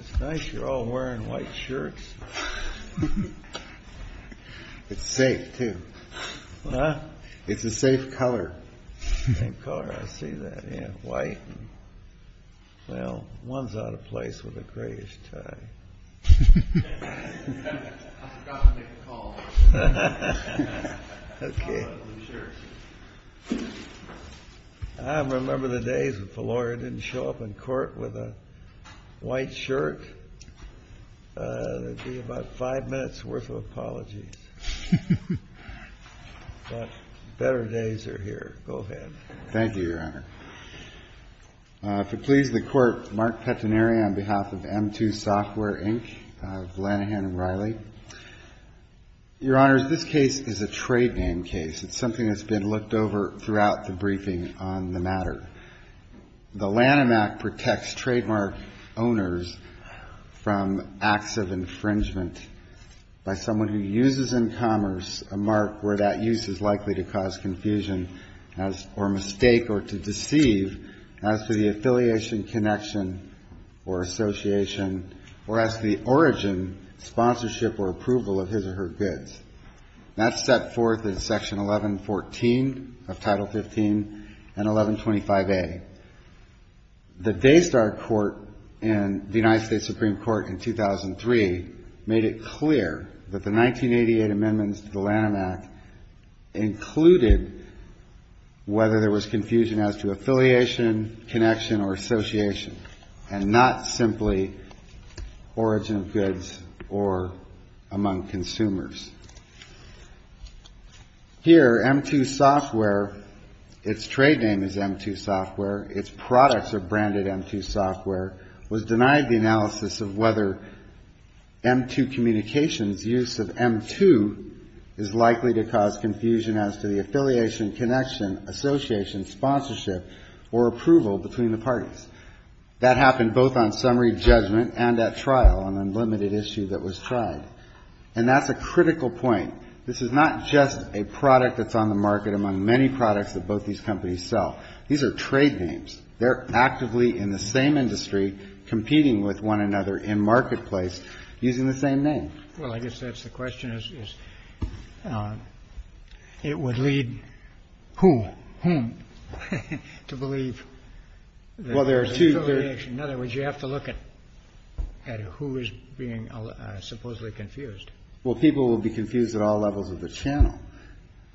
It's nice you're all wearing white shirts. It's safe, too. Huh? It's a safe color. Same color, I see that, yeah, white. Well, one's out of place with a grayish tie. I forgot to make a call. Okay. I remember the days if a lawyer didn't show up in court with a white shirt, there'd be about five minutes worth of apologies. But better days are here. Go ahead. Thank you, Your Honor. If it pleases the Court, Mark Pettinieri on behalf of M2 SOFTWARE, Inc., Your Honor, this case is a trade name case. It's something that's been looked over throughout the briefing on the matter. The Lanham Act protects trademark owners from acts of infringement by someone who uses in commerce a mark where that use is likely to cause confusion or mistake or to deceive as to the affiliation, connection, or association or as to the origin, sponsorship, or approval of his or her goods. That's set forth in Section 1114 of Title 15 and 1125A. The Daystar Court in the United States Supreme Court in 2003 made it clear that the 1988 amendments to the Lanham Act included whether there was confusion as to affiliation, connection, or association and not simply origin of goods or among consumers. Here, M2 SOFTWARE, its trade name is M2 SOFTWARE, its products are branded M2 SOFTWARE, was denied the analysis of whether M2 Communications' use of M2 is likely to cause confusion as to the affiliation, connection, association, sponsorship, or approval between the parties. That happened both on summary judgment and at trial, an unlimited issue that was tried. And that's a critical point. This is not just a product that's on the market among many products that both these companies sell. These are trade names. They're actively in the same industry competing with one another in marketplace using the same name. Well, I guess that's the question, is it would lead who, whom to believe that there's affiliation. In other words, you have to look at who is being supposedly confused. Well, people will be confused at all levels of the channel.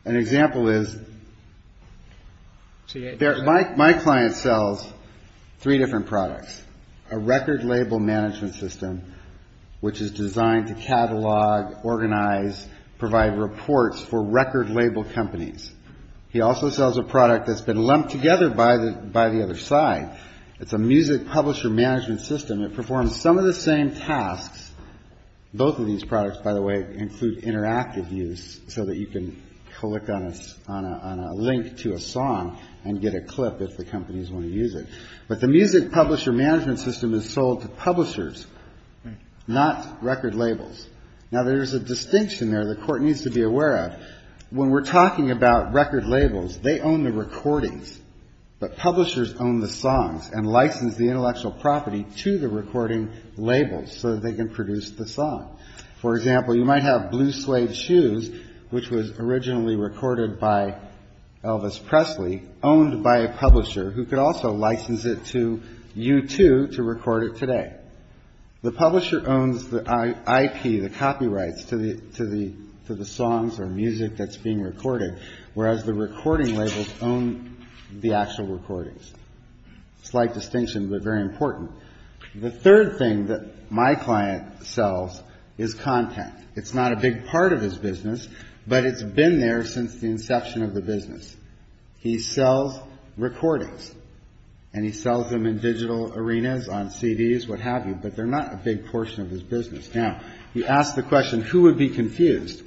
An example is my client sells three different products, a record label management system, which is designed to catalog, organize, provide reports for record label companies. He also sells a product that's been lumped together by the other side. It's a music publisher management system. It performs some of the same tasks. Both of these products, by the way, include interactive use so that you can click on a link to a song and get a clip if the companies want to use it. But the music publisher management system is sold to publishers, not record labels. Now, there's a distinction there the court needs to be aware of. When we're talking about record labels, they own the recordings. But publishers own the songs and license the intellectual property to the recording labels so that they can produce the song. For example, you might have Blue Slave Shoes, which was originally recorded by Elvis Presley, owned by a publisher who could also license it to U2 to record it today. The publisher owns the IP, the copyrights, to the songs or music that's being recorded, whereas the recording labels own the actual recordings. Slight distinction, but very important. The third thing that my client sells is content. It's not a big part of his business, but it's been there since the inception of the business. He sells recordings, and he sells them in digital arenas, on CDs, what have you, but they're not a big portion of his business. Now, you ask the question, who would be confused?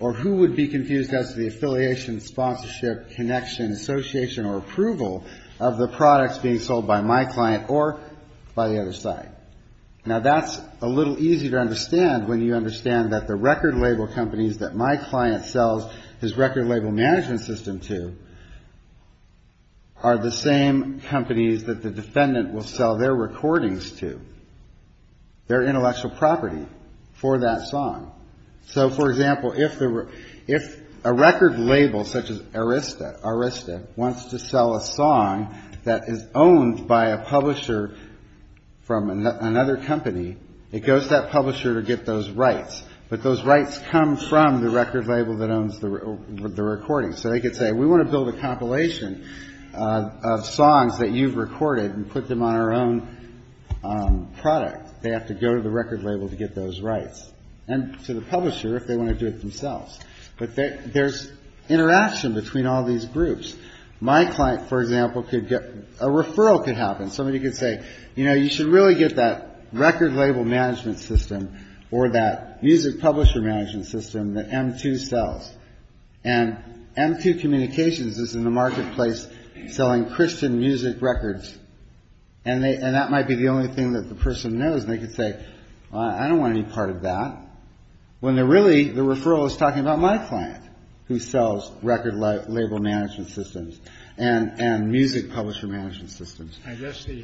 Or who would be confused as to the affiliation, sponsorship, connection, association, or approval of the products being sold by my client or by the other side? Now, that's a little easier to understand when you understand that the record label companies that my client sells his record label management system to are the same companies that the defendant will sell their recordings to, their intellectual property for that song. So, for example, if a record label such as Arista wants to sell a song that is owned by a publisher from another company, it goes to that publisher to get those rights, but those rights come from the record label that owns the recording. So they could say, we want to build a compilation of songs that you've recorded and put them on our own product. They have to go to the record label to get those rights, and to the publisher if they want to do it themselves. But there's interaction between all these groups. My client, for example, a referral could happen. Somebody could say, you know, you should really get that record label management system or that music publisher management system that M2 sells. And M2 Communications is in the marketplace selling Christian music records, and that might be the only thing that the person knows. And they could say, well, I don't want any part of that. When they're really, the referral is talking about my client, who sells record label management systems and music publisher management systems. I guess the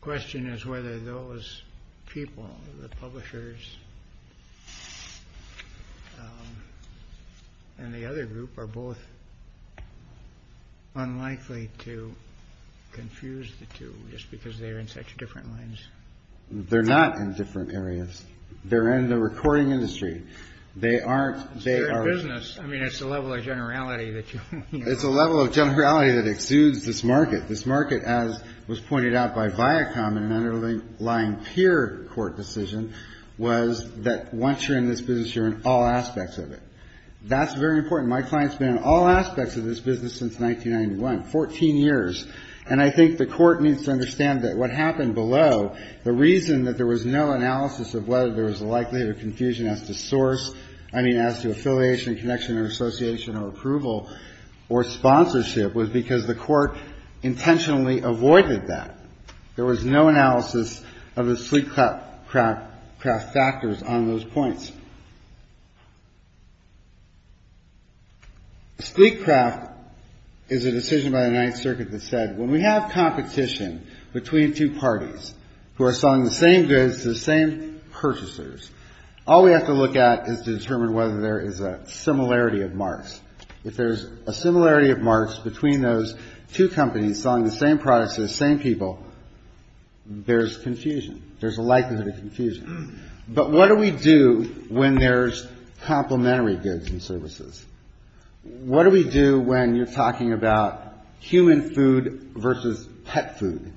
question is whether those people, the publishers and the other group, are both unlikely to confuse the two just because they're in such different lines. They're not in different areas. They're in the recording industry. They aren't. It's a level of generality. It's a level of generality that exudes this market. This market, as was pointed out by Viacom in an underlying peer court decision, was that once you're in this business, you're in all aspects of it. That's very important. My client's been in all aspects of this business since 1991, 14 years. And I think the court needs to understand that what happened below, the reason that there was no analysis of whether there was a likelihood of confusion as to affiliation, connection or association or approval or sponsorship was because the court intentionally avoided that. There was no analysis of the sleek craft factors on those points. Sleek craft is a decision by the Ninth Circuit that said when we have competition between two parties who are selling the same goods to the same purchasers, all we have to look at is to determine whether there is a similarity of marks. If there's a similarity of marks between those two companies selling the same products to the same people, there's confusion. There's a likelihood of confusion. But what do we do when there's complementary goods and services? What do we do when you're talking about human food versus pet food?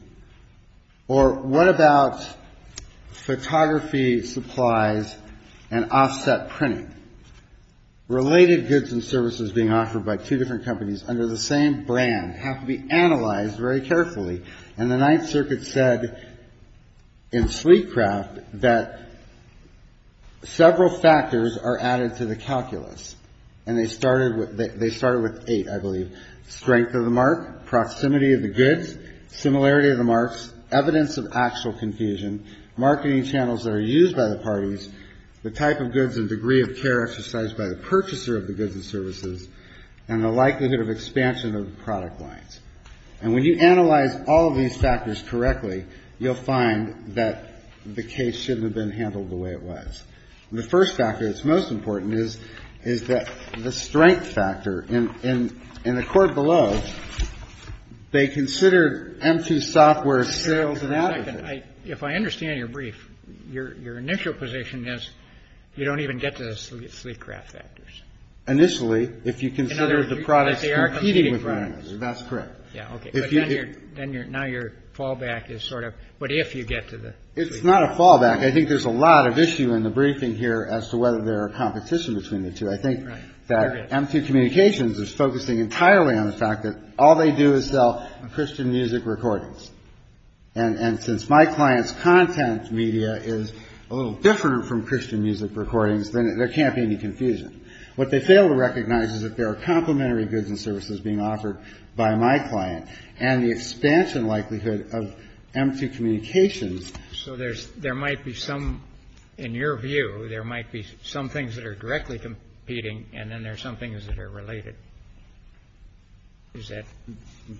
Or what about photography supplies and offset printing? Related goods and services being offered by two different companies under the same brand have to be analyzed very carefully. And the Ninth Circuit said in sleek craft that several factors are added to the calculus, and they started with eight, I believe. Strength of the mark, proximity of the goods, similarity of the marks, evidence of actual confusion, marketing channels that are used by the parties, the type of goods and degree of care exercised by the purchaser of the goods and services, and the likelihood of expansion of the product lines. And when you analyze all of these factors correctly, you'll find that the case shouldn't have been handled the way it was. The first factor that's most important is that the strength factor. In the court below, they considered M2 software sales and advertising. If I understand your brief, your initial position is you don't even get to the sleek craft factors. Initially, if you consider the products competing with one another, that's correct. Now your fallback is sort of, but if you get to the sleek craft. It's not a fallback. I think there's a lot of issue in the briefing here as to whether there are competition between the two. I think that M2 Communications is focusing entirely on the fact that all they do is sell Christian music recordings. And since my client's content media is a little different from Christian music recordings, there can't be any confusion. What they fail to recognize is that there are complementary goods and services being offered by my client, and the expansion likelihood of M2 Communications. So there might be some, in your view, there might be some things that are directly competing, and then there are some things that are related. Is that?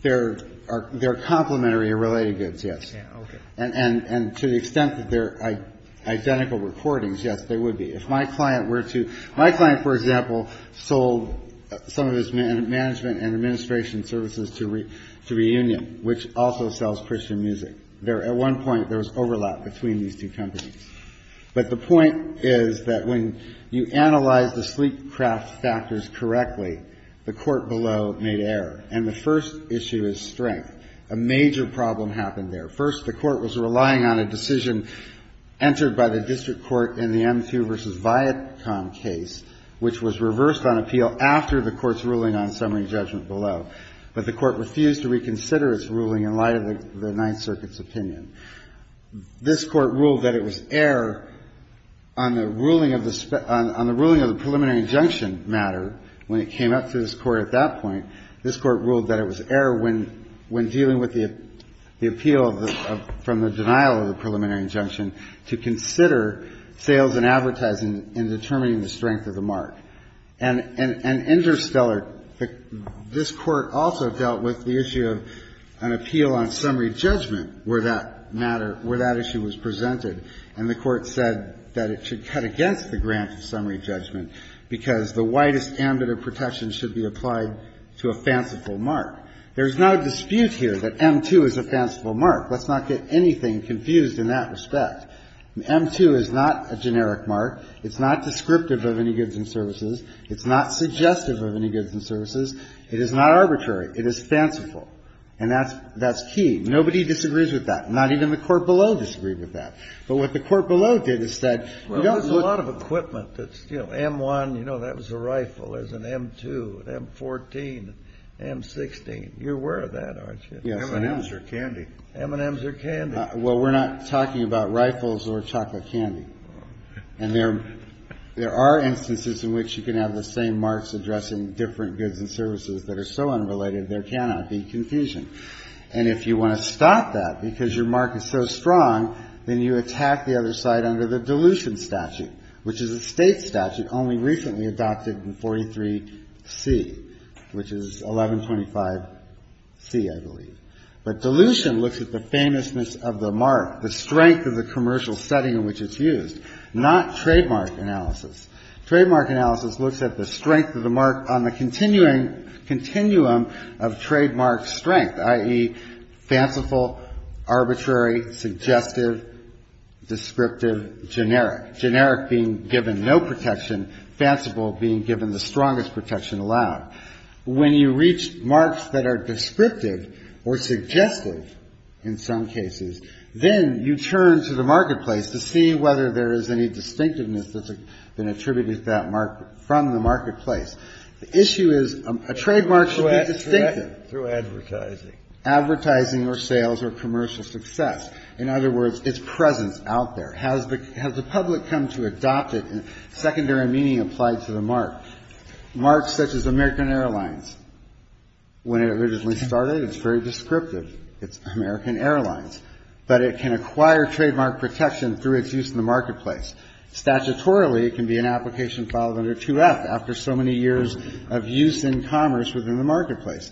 There are complementary or related goods, yes. Okay. And to the extent that they're identical recordings, yes, they would be. My client, for example, sold some of his management and administration services to Reunion, which also sells Christian music. At one point, there was overlap between these two companies. But the point is that when you analyze the sleek craft factors correctly, the court below made error. And the first issue is strength. A major problem happened there. First, the court was relying on a decision entered by the district court in the M2 v. Viacom case, which was reversed on appeal after the court's ruling on summary judgment below. But the court refused to reconsider its ruling in light of the Ninth Circuit's opinion. This court ruled that it was error on the ruling of the preliminary injunction matter. When it came up to this court at that point, this Court ruled that it was error when dealing with the appeal from the denial of the preliminary injunction to consider sales and advertising in determining the strength of the mark. And interstellar, this Court also dealt with the issue of an appeal on summary judgment where that matter, where that issue was presented. And the Court said that it should cut against the grant of summary judgment because the widest ambit of protection should be applied to a fanciful mark. There's no dispute here that M2 is a fanciful mark. Let's not get anything confused in that respect. M2 is not a generic mark. It's not descriptive of any goods and services. It's not suggestive of any goods and services. It is not arbitrary. It is fanciful. And that's key. Nobody disagrees with that. Not even the court below disagreed with that. But what the court below did is said, you don't want to do that. M1, you know, that was a rifle. There's an M2, an M14, an M16. You're aware of that, aren't you? M&Ms are candy. M&Ms are candy. Well, we're not talking about rifles or chocolate candy. And there are instances in which you can have the same marks addressing different goods and services that are so unrelated there cannot be confusion. And if you want to stop that because your mark is so strong, then you attack the other side under the dilution statute, which is a state statute only recently adopted in 43C, which is 1125C, I believe. But dilution looks at the famousness of the mark, the strength of the commercial setting in which it's used, not trademark analysis. Trademark analysis looks at the strength of the mark on the continuing continuum of trademark strength, i.e., fanciful, arbitrary, suggestive, descriptive, generic, generic being given no protection, fanciful being given the strongest protection allowed. When you reach marks that are descriptive or suggestive in some cases, then you turn to the marketplace to see whether there is any distinctiveness that's been attributed to that mark from the marketplace. The issue is a trademark should be distinctive. Breyer, through advertising. Advertising or sales or commercial success. In other words, its presence out there. Has the public come to adopt it in secondary meaning applied to the mark? Marks such as American Airlines. When it originally started, it's very descriptive. It's American Airlines. But it can acquire trademark protection through its use in the marketplace. Statutorily, it can be an application filed under 2F after so many years of use in commerce within the marketplace.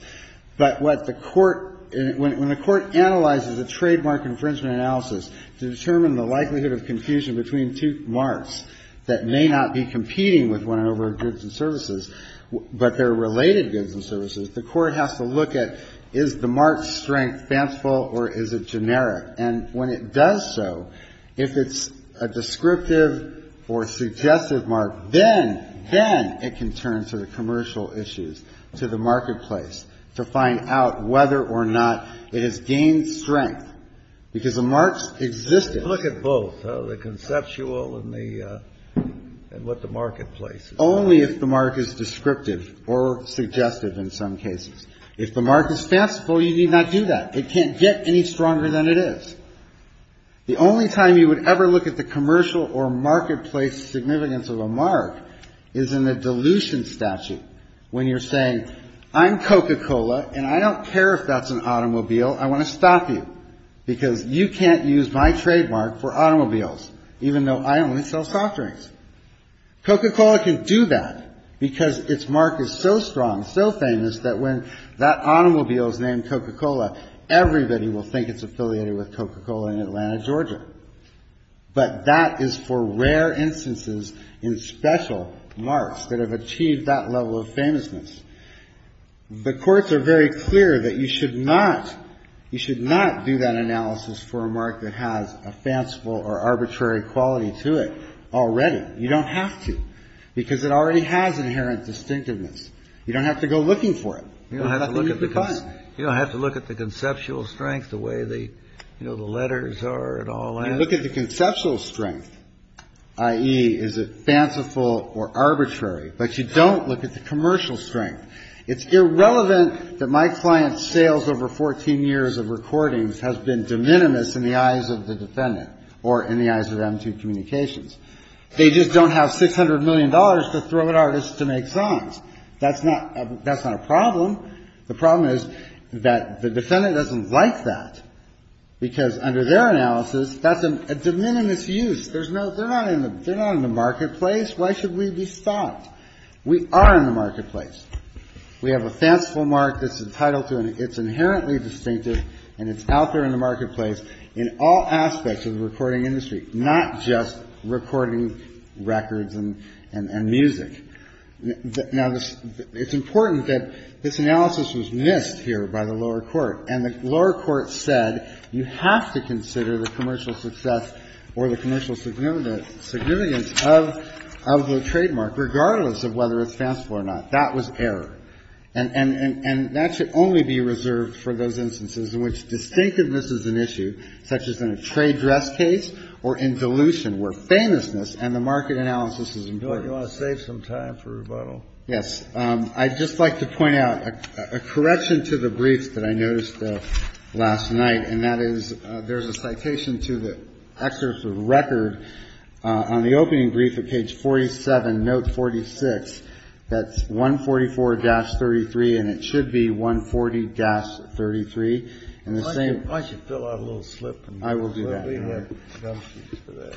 But what the court – when the court analyzes a trademark infringement analysis to determine the likelihood of confusion between two marks that may not be competing with one another in goods and services, but they're related goods and services, the court has to look at is the mark's strength fanciful or is it generic. And when it does so, if it's a descriptive or suggestive mark, then it can turn to the commercial issues, to the marketplace, to find out whether or not it has gained strength. Because the mark's existence. Look at both, the conceptual and what the marketplace is. Only if the mark is descriptive or suggestive in some cases. If the mark is fanciful, you need not do that. It can't get any stronger than it is. The only time you would ever look at the commercial or marketplace significance of a mark is in the dilution statute. When you're saying, I'm Coca-Cola and I don't care if that's an automobile, I want to stop you. Because you can't use my trademark for automobiles, even though I only sell soft drinks. Coca-Cola can do that because its mark is so strong, so famous, that when that automobile is named Coca-Cola, everybody will think it's affiliated with Coca-Cola in Atlanta, Georgia. But that is for rare instances in special marks that have achieved that level of famousness. The courts are very clear that you should not, you should not do that analysis for a mark that has a fanciful or arbitrary quality to it already. You don't have to. Because it already has inherent distinctiveness. You don't have to go looking for it. You don't have to look at the conceptual strength, the way the letters are and all that. You look at the conceptual strength, i.e., is it fanciful or arbitrary? But you don't look at the commercial strength. It's irrelevant that my client's sales over 14 years of recordings has been de minimis in the eyes of the defendant or in the eyes of M2 Communications. They just don't have $600 million to throw at artists to make songs. That's not a problem. The problem is that the defendant doesn't like that because, under their analysis, that's a de minimis use. They're not in the marketplace. Why should we be stopped? We are in the marketplace. We have a fanciful mark that's entitled to, and it's inherently distinctive, and it's out there in the marketplace in all aspects of the recording industry, not just recording records and music. Now, it's important that this analysis was missed here by the lower court. And the lower court said you have to consider the commercial success or the commercial significance of the trademark, regardless of whether it's fanciful or not. That was error. And that should only be reserved for those instances in which distinctiveness is an issue, such as in a trade dress case or in dilution, where famousness and the market analysis is important. Kennedy. You want to save some time for rebuttal? Yes. I'd just like to point out a correction to the briefs that I noticed last night, and that is there's a citation to the excerpt of record on the opening brief at page 47, note 46, that's 144-33, and it should be 140-33. Why don't you fill out a little slip? I will do that.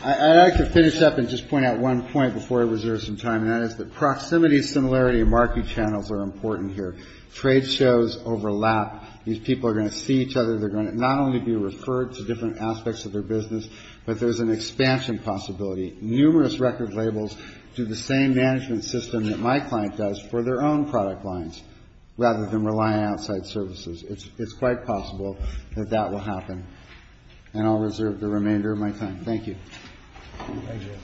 I'd like to finish up and just point out one point before I reserve some time, and that is that proximity, similarity, and market channels are important here. Trade shows overlap. These people are going to see each other. They're going to not only be referred to different aspects of their business, but there's an expansion possibility. Numerous record labels do the same management system that my client does for their own product lines, rather than rely on outside services. It's quite possible that that will happen, and I'll reserve the remainder of my time. Thank you. Thank you.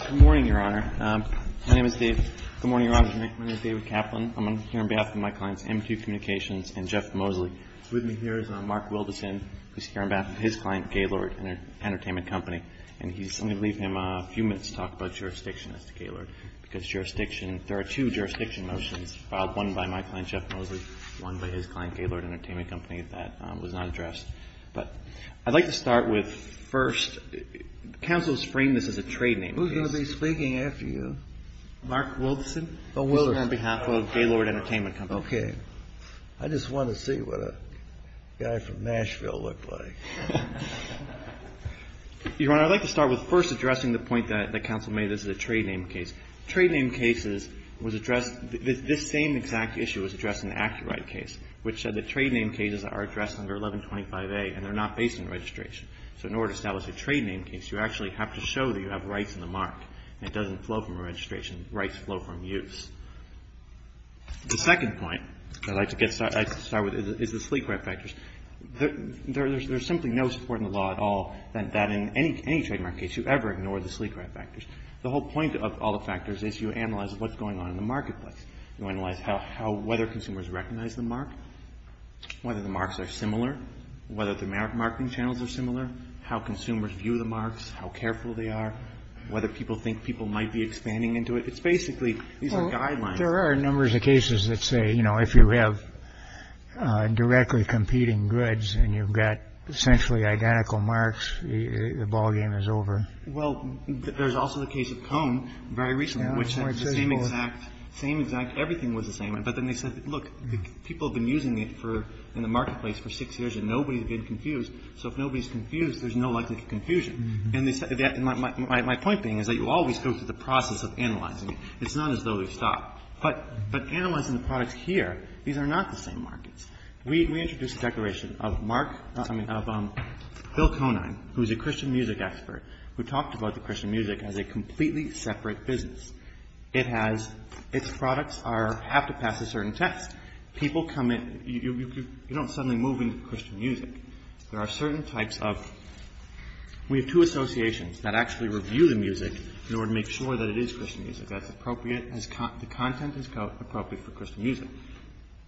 Good morning, Your Honor. My name is David. Good morning, Your Honor. My name is David Kaplan. I'm here on behalf of my clients MQ Communications and Jeff Mosley. With me here is Mark Wildeson. He's here on behalf of his client, Gaylord Entertainment Company, and I'm going to leave him a few minutes to talk about jurisdiction as to Gaylord, because there are two jurisdiction motions filed, one by my client Jeff Mosley, one by his client, Gaylord Entertainment Company, that was not addressed. But I'd like to start with, first, counsel has framed this as a trade name. Who's going to be speaking after you? Mark Wildeson. On behalf of Gaylord Entertainment Company. Okay. I just want to see what a guy from Nashville looked like. Your Honor, I'd like to start with, first, addressing the point that counsel made, this is a trade name case. Trade name cases was addressed, this same exact issue was addressed in the active right case, which said that trade name cases are addressed under 1125A, and they're not based on registration. So in order to establish a trade name case, you actually have to show that you have rights in the mark, and it doesn't flow from a registration. Rights flow from use. The second point that I'd like to start with is the sleek rat factors. There's simply no support in the law at all that in any trade name case you ever ignore the sleek rat factors. The whole point of all the factors is you analyze what's going on in the marketplace. You analyze whether consumers recognize the mark, whether the marks are similar, whether the marketing channels are similar, how consumers view the marks, how careful they are, whether people think people might be expanding into it. It's basically these are guidelines. There are numbers of cases that say, you know, if you have directly competing goods and you've got essentially identical marks, the ballgame is over. Well, there's also the case of cone very recently, which is the same exact, same exact. Everything was the same. But then they said, look, people have been using it for in the marketplace for six years and nobody's been confused. So if nobody's confused, there's no likely confusion. And my point being is that you always go through the process of analyzing. It's not as though they stop. But analyzing the products here, these are not the same markets. We introduced a declaration of Mark, I mean, of Bill Conine, who's a Christian music expert, who talked about the Christian music as a completely separate business. It has its products are have to pass a certain test. People come in. You don't suddenly move into Christian music. There are certain types of we have two associations that actually review the music in order to make sure that it is Christian music. That's appropriate as the content is appropriate for Christian music.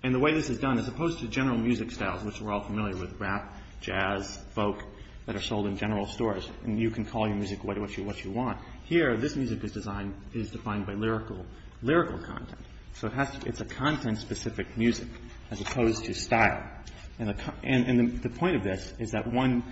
And the way this is done, as opposed to general music styles, which we're all familiar with, rap, jazz, folk that are sold in general stores, and you can call your music what you want. Here, this music is defined by lyrical content. So it's a content-specific music as opposed to style. And the point of this is that, one,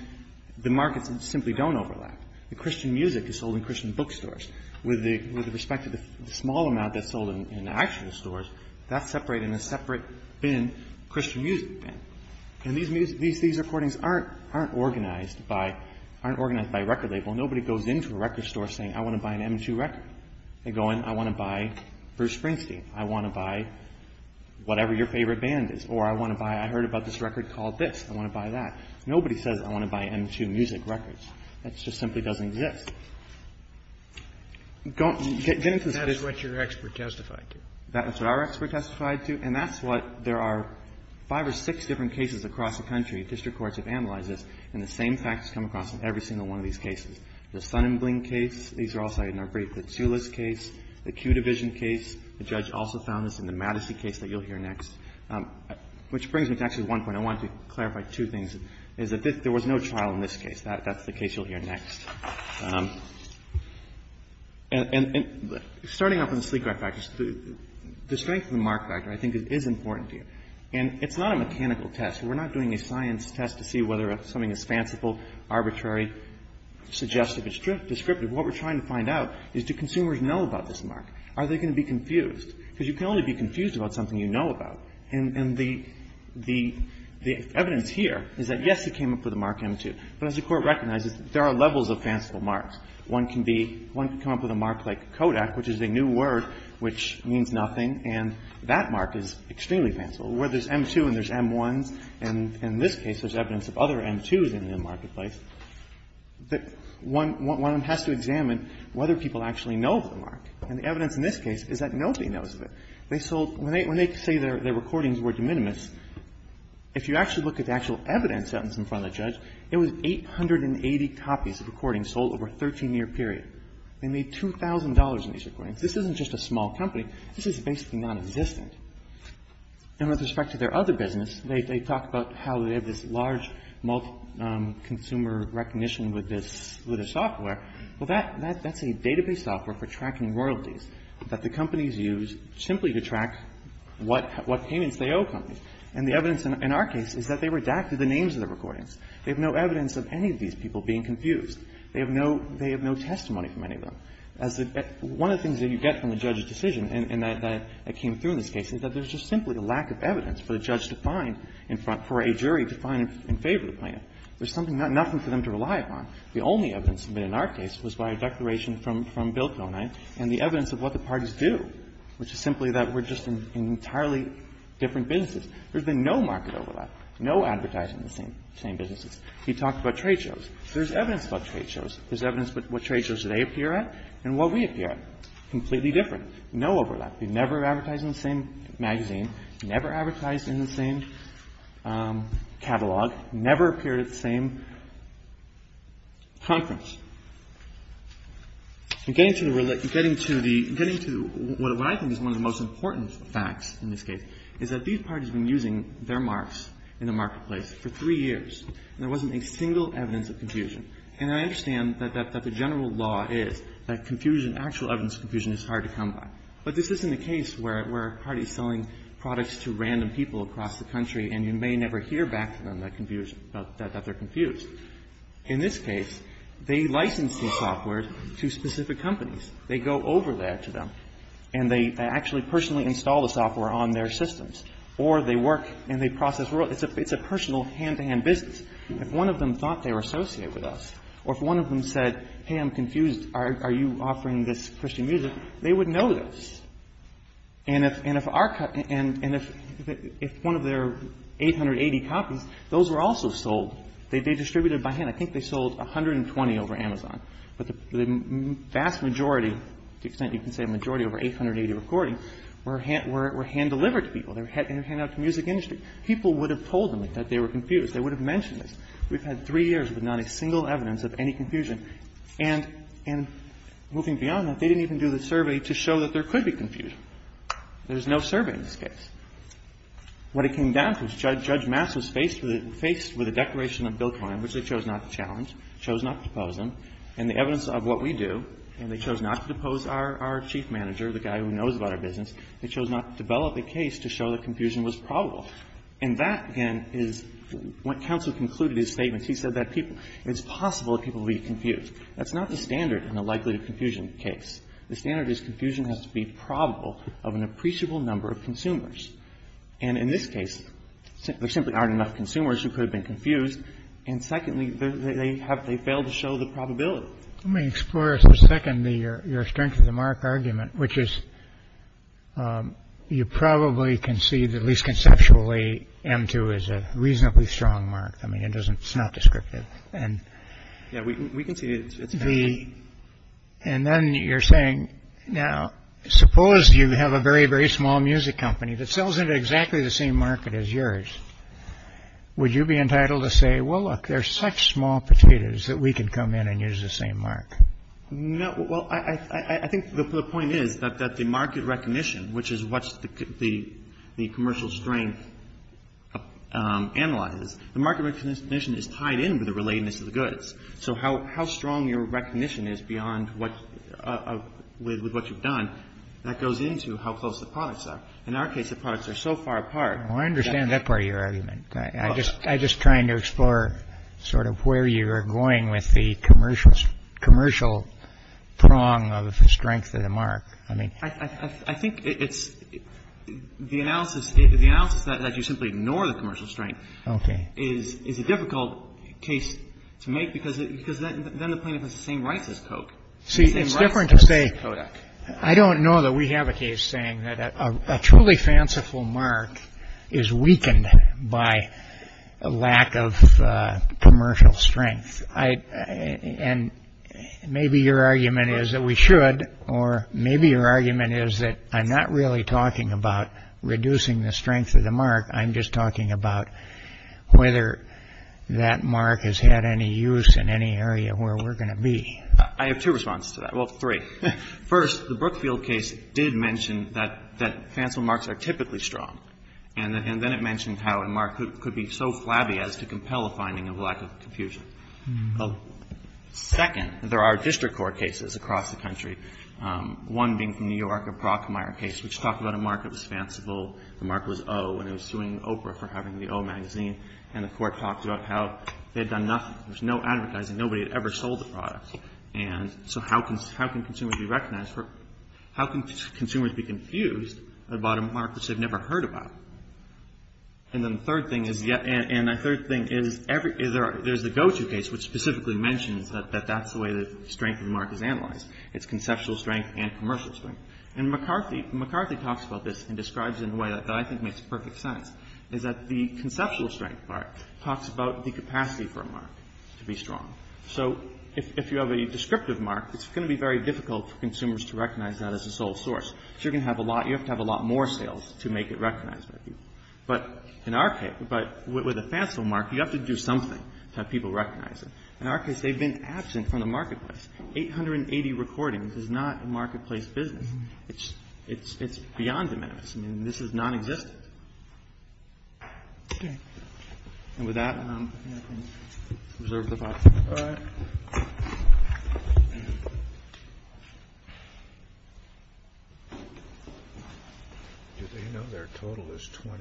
the markets simply don't overlap. The Christian music is sold in Christian bookstores. With respect to the small amount that's sold in actual stores, that's separated in a separate bin, Christian music bin. And these recordings aren't organized by record label. Nobody goes into a record store saying, I want to buy an M2 record. They go in, I want to buy Bruce Springsteen. I want to buy whatever your favorite band is. Or I want to buy, I heard about this record called this. I want to buy that. Nobody says, I want to buy M2 music records. That just simply doesn't exist. Get into this. That is what your expert testified to. That's what our expert testified to. And that's what there are five or six different cases across the country, district courts have analyzed this, and the same facts come across in every single one of these cases. The Sonnenbling case, these are all cited in our brief. The Tsoulis case, the Q Division case, the judge also found this in the Madison case that you'll hear next. Which brings me to actually one point. I wanted to clarify two things, is that there was no trial in this case. That's the case you'll hear next. And starting off with the sleep drive factors, the strength of the mark factor I think is important to you. And it's not a mechanical test. We're not doing a science test to see whether something is fanciful, arbitrary, suggestive or descriptive. What we're trying to find out is do consumers know about this mark? Are they going to be confused? Because you can only be confused about something you know about. And the evidence here is that, yes, it came up with a mark M2. But as the Court recognizes, there are levels of fanciful marks. One can be, one can come up with a mark like Kodak, which is a new word which means nothing, and that mark is extremely fanciful. Where there's M2 and there's M1s, and in this case there's evidence of other M2s in the marketplace. But one has to examine whether people actually know the mark. And the evidence in this case is that nobody knows the mark. They sold, when they say their recordings were de minimis, if you actually look at the actual evidence set in front of the judge, it was 880 copies of recordings sold over a 13-year period. They made $2,000 on these recordings. This isn't just a small company. This is basically nonexistent. And with respect to their other business, they talk about how they have this large multi-consumer recognition with this software. Well, that's a database software for tracking royalties that the companies use simply to track what payments they owe companies. And the evidence in our case is that they redacted the names of the recordings. They have no evidence of any of these people being confused. They have no testimony from any of them. One of the things that you get from the judge's decision, and that came through in this case, is that there's just simply a lack of evidence for the judge to find in front, for a jury to find in favor of the plaintiff. There's nothing for them to rely upon. The only evidence submitted in our case was by a declaration from Bill Conine and the evidence of what the parties do, which is simply that we're just in entirely different businesses. There's been no market overlap, no advertising in the same businesses. He talked about trade shows. There's evidence about trade shows. There's evidence about what trade shows they appear at and what we appear at. Completely different. No overlap. We've never advertised in the same magazine, never advertised in the same catalog, never appeared at the same conference. Getting to the relate – getting to the – getting to what I think is one of the most important facts in this case is that these parties have been using their marks in the marketplace for three years, and there wasn't a single evidence of confusion. And I understand that the general law is that confusion, actual evidence of confusion is hard to come by. But this isn't a case where a party is selling products to random people across the country, and you may never hear back from them that they're confused. In this case, they license the software to specific companies. They go over that to them, and they actually personally install the software on their systems. Or they work and they process – it's a personal, hand-to-hand business. If one of them thought they were associated with us, or if one of them said, hey, I'm confused, are you offering this Christian music, they would know this. And if our – and if one of their 880 copies, those were also sold. They distributed by hand. I think they sold 120 over Amazon. But the vast majority, to the extent you can say a majority, over 880 recordings were hand-delivered to people. They were handed out to the music industry. People would have told them that they were confused. They would have mentioned this. We've had three years with not a single evidence of any confusion. And moving beyond that, they didn't even do the survey to show that there could be confusion. There's no survey in this case. What it came down to is Judge Mass was faced with a declaration of Bill Klein, which they chose not to challenge, chose not to depose him. And the evidence of what we do, and they chose not to depose our chief manager, the guy who knows about our business, they chose not to develop a case to show that confusion was probable. And that, again, is what counsel concluded in his statement. He said that it's possible that people would be confused. That's not the standard in a likelihood of confusion case. The standard is confusion has to be probable of an appreciable number of consumers. And in this case, there simply aren't enough consumers who could have been confused. And secondly, they failed to show the probability. Let me explore for a second your strength of the mark argument, which is you probably can see, at least conceptually, M2 is a reasonably strong mark. I mean, it's not descriptive. Yeah, we can see it. And then you're saying, now, suppose you have a very, very small music company that sells into exactly the same market as yours. Would you be entitled to say, well, look, there's such small potatoes that we can come in and use the same mark? Well, I think the point is that the market recognition, which is what the commercial strength analyzes, the market recognition is tied in with the relatedness of the goods. So how strong your recognition is beyond what you've done, that goes into how close the products are. In our case, the products are so far apart. Well, I understand that part of your argument. I'm just trying to explore sort of where you are going with the commercial prong of the strength of the mark. I mean, I think it's the analysis that you simply ignore the commercial strength. OK. Is a difficult case to make because then the plaintiff has the same rights as Coke. See, it's different to say. I don't know that we have a case saying that a truly fanciful mark is weakened by a lack of commercial strength. And maybe your argument is that we should, or maybe your argument is that I'm not really talking about reducing the strength of the mark. I'm just talking about whether that mark has had any use in any area where we're going to be. I have two responses to that. Well, three. First, the Brookfield case did mention that fanciful marks are typically strong. And then it mentioned how a mark could be so flabby as to compel a finding of lack of confusion. Second, there are district court cases across the country, one being from New York, a Brockmeyer case, which talked about a mark that was fanciful. The mark was O, and it was suing Oprah for having the O magazine. And the court talked about how they had done nothing. There was no advertising. Nobody had ever sold the product. And so how can consumers be recognized for – how can consumers be confused about a mark that they've never heard about? And then the third thing is – and the third thing is there's the GoTo case, which specifically mentions that that's the way the strength of the mark is analyzed. It's conceptual strength and commercial strength. And McCarthy – McCarthy talks about this and describes it in a way that I think makes perfect sense, is that the conceptual strength part talks about the capacity for a mark to be strong. So if you have a descriptive mark, it's going to be very difficult for consumers to recognize that as a sole source. So you're going to have a lot – you have to have a lot more sales to make it recognized by people. But in our case – but with a fanciful mark, you have to do something to have people recognize it. 880 recordings is not a marketplace business. It's – it's beyond the maps. I mean, this is nonexistent. Okay. And with that, I think I can reserve the floor. All right. Do they know their total is 20?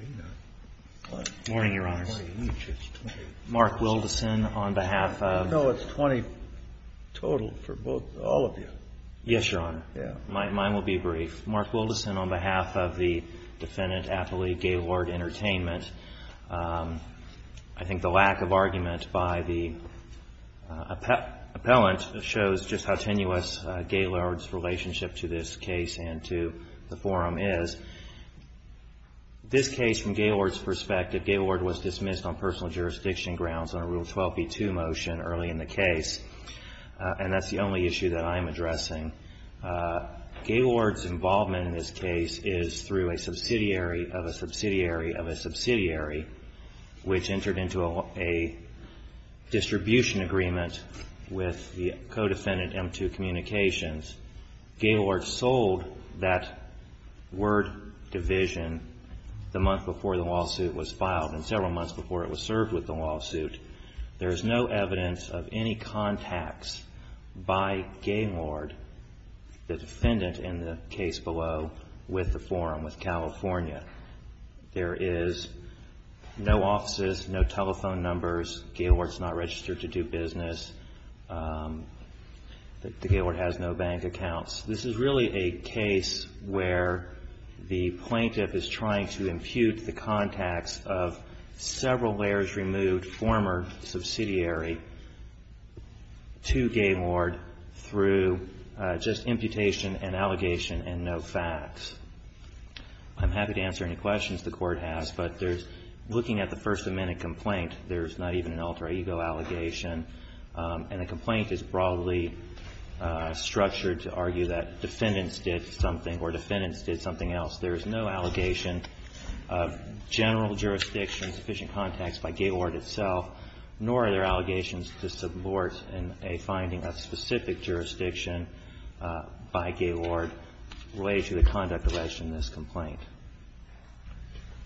Morning, Your Honors. 20 each is 20. Mark Wilderson on behalf of – No, it's 20 total for both – all of you. Yes, Your Honor. Yeah. Mine will be brief. Mark Wilderson on behalf of the defendant, affiliate Gaylord Entertainment. I think the lack of argument by the appellant shows just how tenuous Gaylord's relationship to this case and to the forum is. This case, from Gaylord's perspective, Gaylord was dismissed on personal jurisdiction grounds on a Rule 12b-2 motion early in the case. And that's the only issue that I'm addressing. Gaylord's involvement in this case is through a subsidiary of a subsidiary of a subsidiary, which entered into a distribution agreement with the co-defendant, M2 Communications. Gaylord sold that word division the month before the lawsuit was filed and several months before it was served with the lawsuit. There is no evidence of any contacts by Gaylord, the defendant in the case below, with the forum, with California. There is no offices, no telephone numbers. Gaylord's not registered to do business. The Gaylord has no bank accounts. This is really a case where the plaintiff is trying to impute the contacts of several layers removed, former subsidiary to Gaylord through just imputation and allegation and no facts. I'm happy to answer any questions the Court has, but there's, looking at the First Amendment complaint, there's not even an alter ego allegation. And the complaint is broadly structured to argue that defendants did something or defendants did something else. There is no allegation of general jurisdiction, sufficient contacts by Gaylord itself, nor are there allegations to support in a finding of specific jurisdiction by Gaylord related to the conduct alleged in this complaint.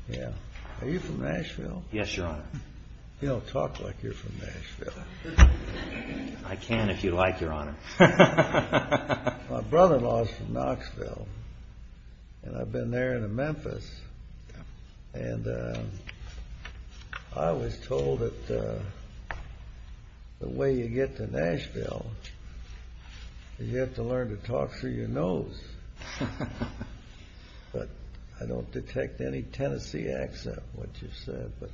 Scalia. Are you from Nashville? Yes, Your Honor. You don't talk like you're from Nashville. I can if you like, Your Honor. My brother-in-law is from Knoxville, and I've been there and to Memphis. And I was told that the way you get to Nashville, you have to learn to talk through your nose. But I don't detect any Tennessee accent, what you said. But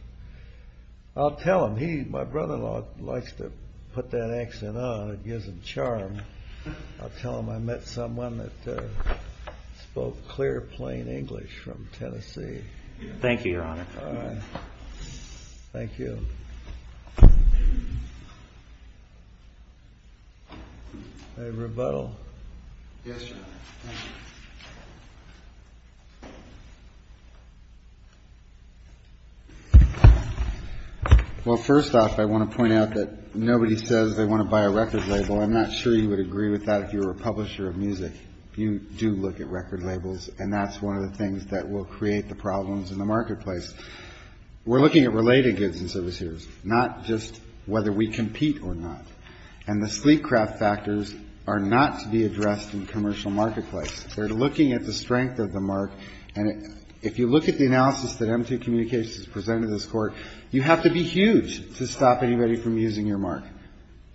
I'll tell him. He, my brother-in-law, likes to put that accent on. It gives him charm. I'll tell him I met someone that spoke clear, plain English from Tennessee. Thank you, Your Honor. All right. Thank you. I rebuttal. Yes, Your Honor. Well, first off, I want to point out that nobody says they want to buy a record label. I'm not sure you would agree with that if you were a publisher of music. You do look at record labels, and that's one of the things that will create the problems in the marketplace. We're looking at related goods and services. Not just whether we compete or not. And the sleek craft factors are not to be addressed in the commercial marketplace. They're looking at the strength of the mark. And if you look at the analysis that M2 Communications has presented to this Court, you have to be huge to stop anybody from using your mark.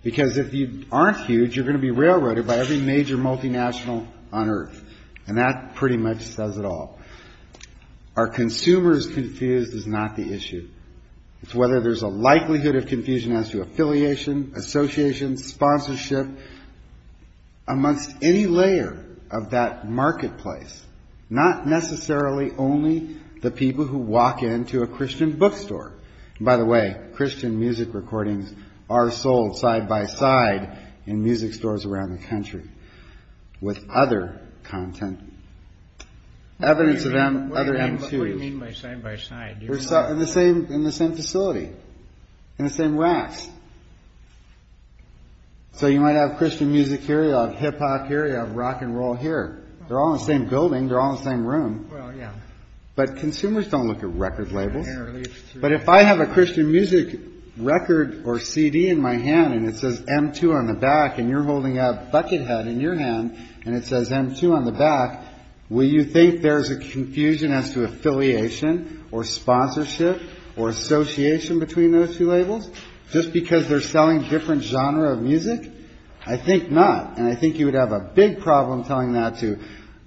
Because if you aren't huge, you're going to be railroaded by every major multinational on Earth. And that pretty much says it all. Are consumers confused is not the issue. It's whether there's a likelihood of confusion as to affiliation, association, sponsorship, amongst any layer of that marketplace. Not necessarily only the people who walk into a Christian bookstore. By the way, Christian music recordings are sold side-by-side in music stores around the country. With other content. Evidence of other M2s. What do you mean by side-by-side? In the same facility. In the same racks. So you might have Christian music here, you have hip-hop here, you have rock and roll here. They're all in the same building, they're all in the same room. But consumers don't look at record labels. But if I have a Christian music record or CD in my hand and it says M2 on the back, and you're holding a buckethead in your hand and it says M2 on the back, will you think there's a confusion as to affiliation or sponsorship or association between those two labels? Just because they're selling different genre of music? I think not. And I think you would have a big problem telling that to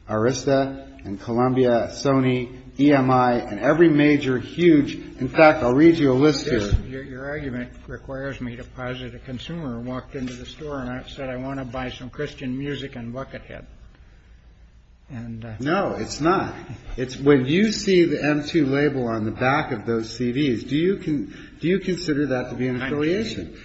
Arista and Columbia, Sony, EMI, and every major huge. In fact, I'll read you a list here. Your argument requires me to posit a consumer who walked into the store and said, I want to buy some Christian music and buckethead. No, it's not. When you see the M2 label on the back of those CDs, do you consider that to be an affiliation?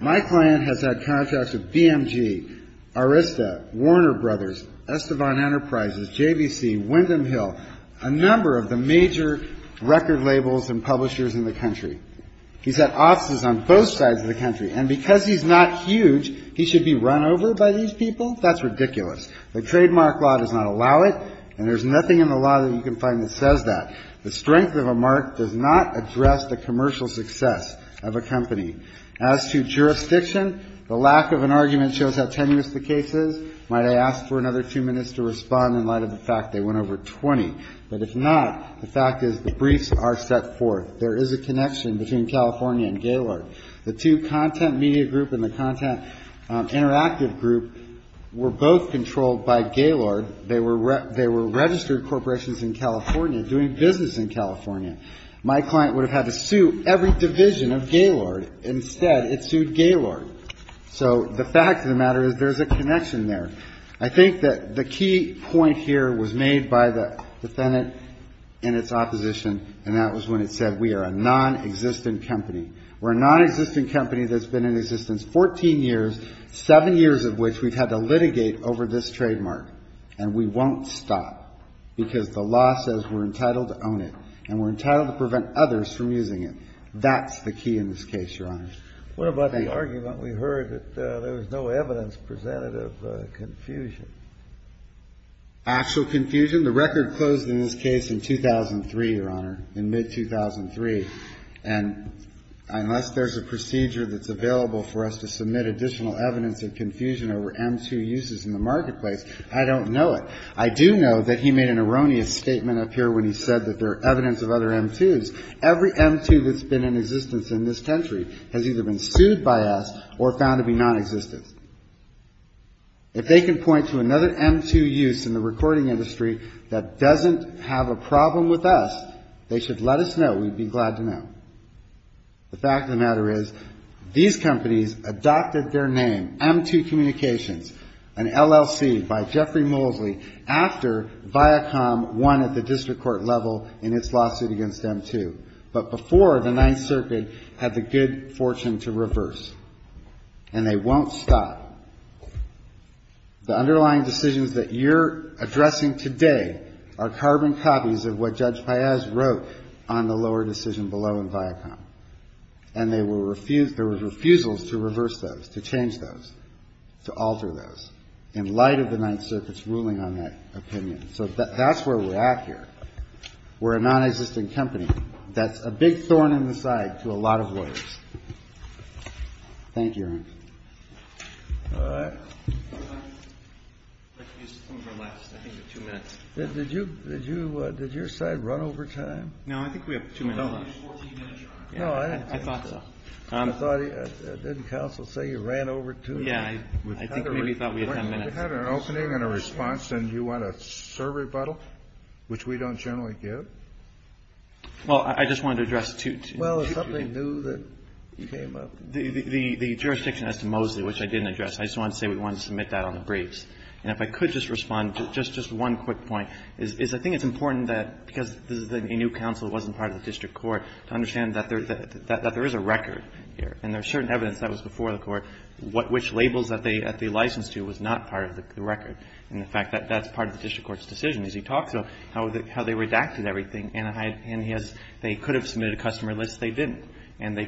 My client has had contracts with BMG, Arista, Warner Brothers, Estevan Enterprises, JVC, Windham Hill, a number of the major record labels and publishers in the country. He's had offices on both sides of the country. And because he's not huge, he should be run over by these people? That's ridiculous. The trademark law does not allow it, and there's nothing in the law that you can find that says that. The strength of a mark does not address the commercial success of a company. As to jurisdiction, the lack of an argument shows how tenuous the case is. Might I ask for another two minutes to respond in light of the fact they went over 20? But if not, the fact is the briefs are set forth. There is a connection between California and Gaylord. The two content media group and the content interactive group were both controlled by Gaylord. They were registered corporations in California doing business in California. My client would have had to sue every division of Gaylord. Instead, it sued Gaylord. So the fact of the matter is there's a connection there. I think that the key point here was made by the defendant in its opposition, and that was when it said we are a nonexistent company. We're a nonexistent company that's been in existence 14 years, seven years of which we've had to litigate over this trademark. And we won't stop, because the law says we're entitled to own it, and we're entitled to prevent others from using it. That's the key in this case, Your Honor. What about the argument we heard that there was no evidence presented of confusion? Actual confusion? The record closed in this case in 2003, Your Honor, in mid-2003. And unless there's a procedure that's available for us to submit additional evidence of confusion over M2 uses in the marketplace, I don't know it. I do know that he made an erroneous statement up here when he said that there are evidence of other M2s. Every M2 that's been in existence in this country has either been sued by us or found to be nonexistent. If they can point to another M2 use in the recording industry that doesn't have a problem with us, they should let us know. We'd be glad to know. The fact of the matter is these companies adopted their name, M2 Communications, an LLC by Jeffrey Moseley, after Viacom won at the district court level in its lawsuit against M2. But before, the Ninth Circuit had the good fortune to reverse. And they won't stop. The underlying decisions that you're addressing today are carbon copies of what Judge Paez wrote on the lower decision below in Viacom. And there were refusals to reverse those, to change those, to alter those, in light of the Ninth Circuit's ruling on that opinion. So that's where we're at here. We're a nonexistent company. That's a big thorn in the side to a lot of lawyers. Thank you, Your Honor. Roberts. Did your side run over time? No, I think we have two minutes left. I thought so. Didn't counsel say you ran over two minutes? Yeah, I think maybe we thought we had ten minutes. You had an opening and a response, and you want a survey bottle, which we don't generally give? Well, I just wanted to address two things. Well, is something new that came up? The jurisdiction as to Moseley, which I didn't address. I just wanted to say we wanted to submit that on the briefs. And if I could just respond to just one quick point, is I think it's important that because this is a new counsel, it wasn't part of the district court, to understand that there is a record here, and there's certain evidence that was before the court, which labels that they licensed to was not part of the record. And the fact that that's part of the district court's decision, as you talked about, how they redacted everything. And they could have submitted a customer list. They didn't. And they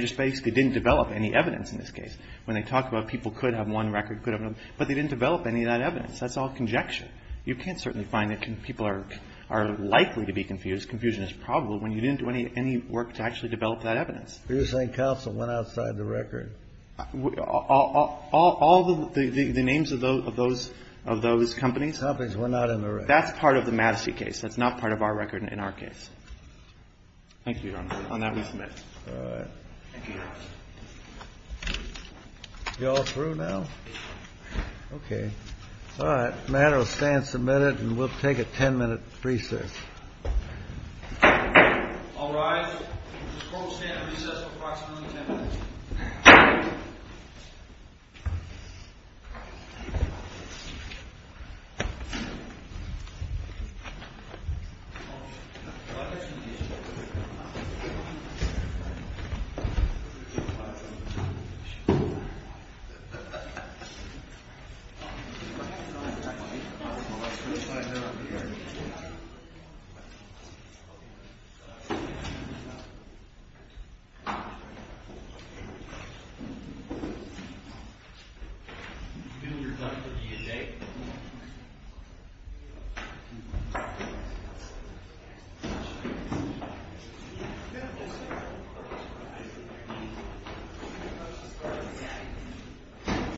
just basically didn't develop any evidence in this case. When they talked about people could have one record, could have another, but they didn't develop any of that evidence. That's all conjecture. You can't certainly find that people are likely to be confused. Confusion is probable when you didn't do any work to actually develop that evidence. You're saying counsel went outside the record? All the names of those companies? Companies were not in the record. That's part of the Madison case. That's not part of our record in our case. Thank you, Your Honor. On that we submit. All right. Thank you, Your Honor. You all through now? Yes. Okay. All right. The matter will stand submitted, and we'll take a 10-minute recess. All rise. The court will stand in recess for approximately 10 minutes. Thank you.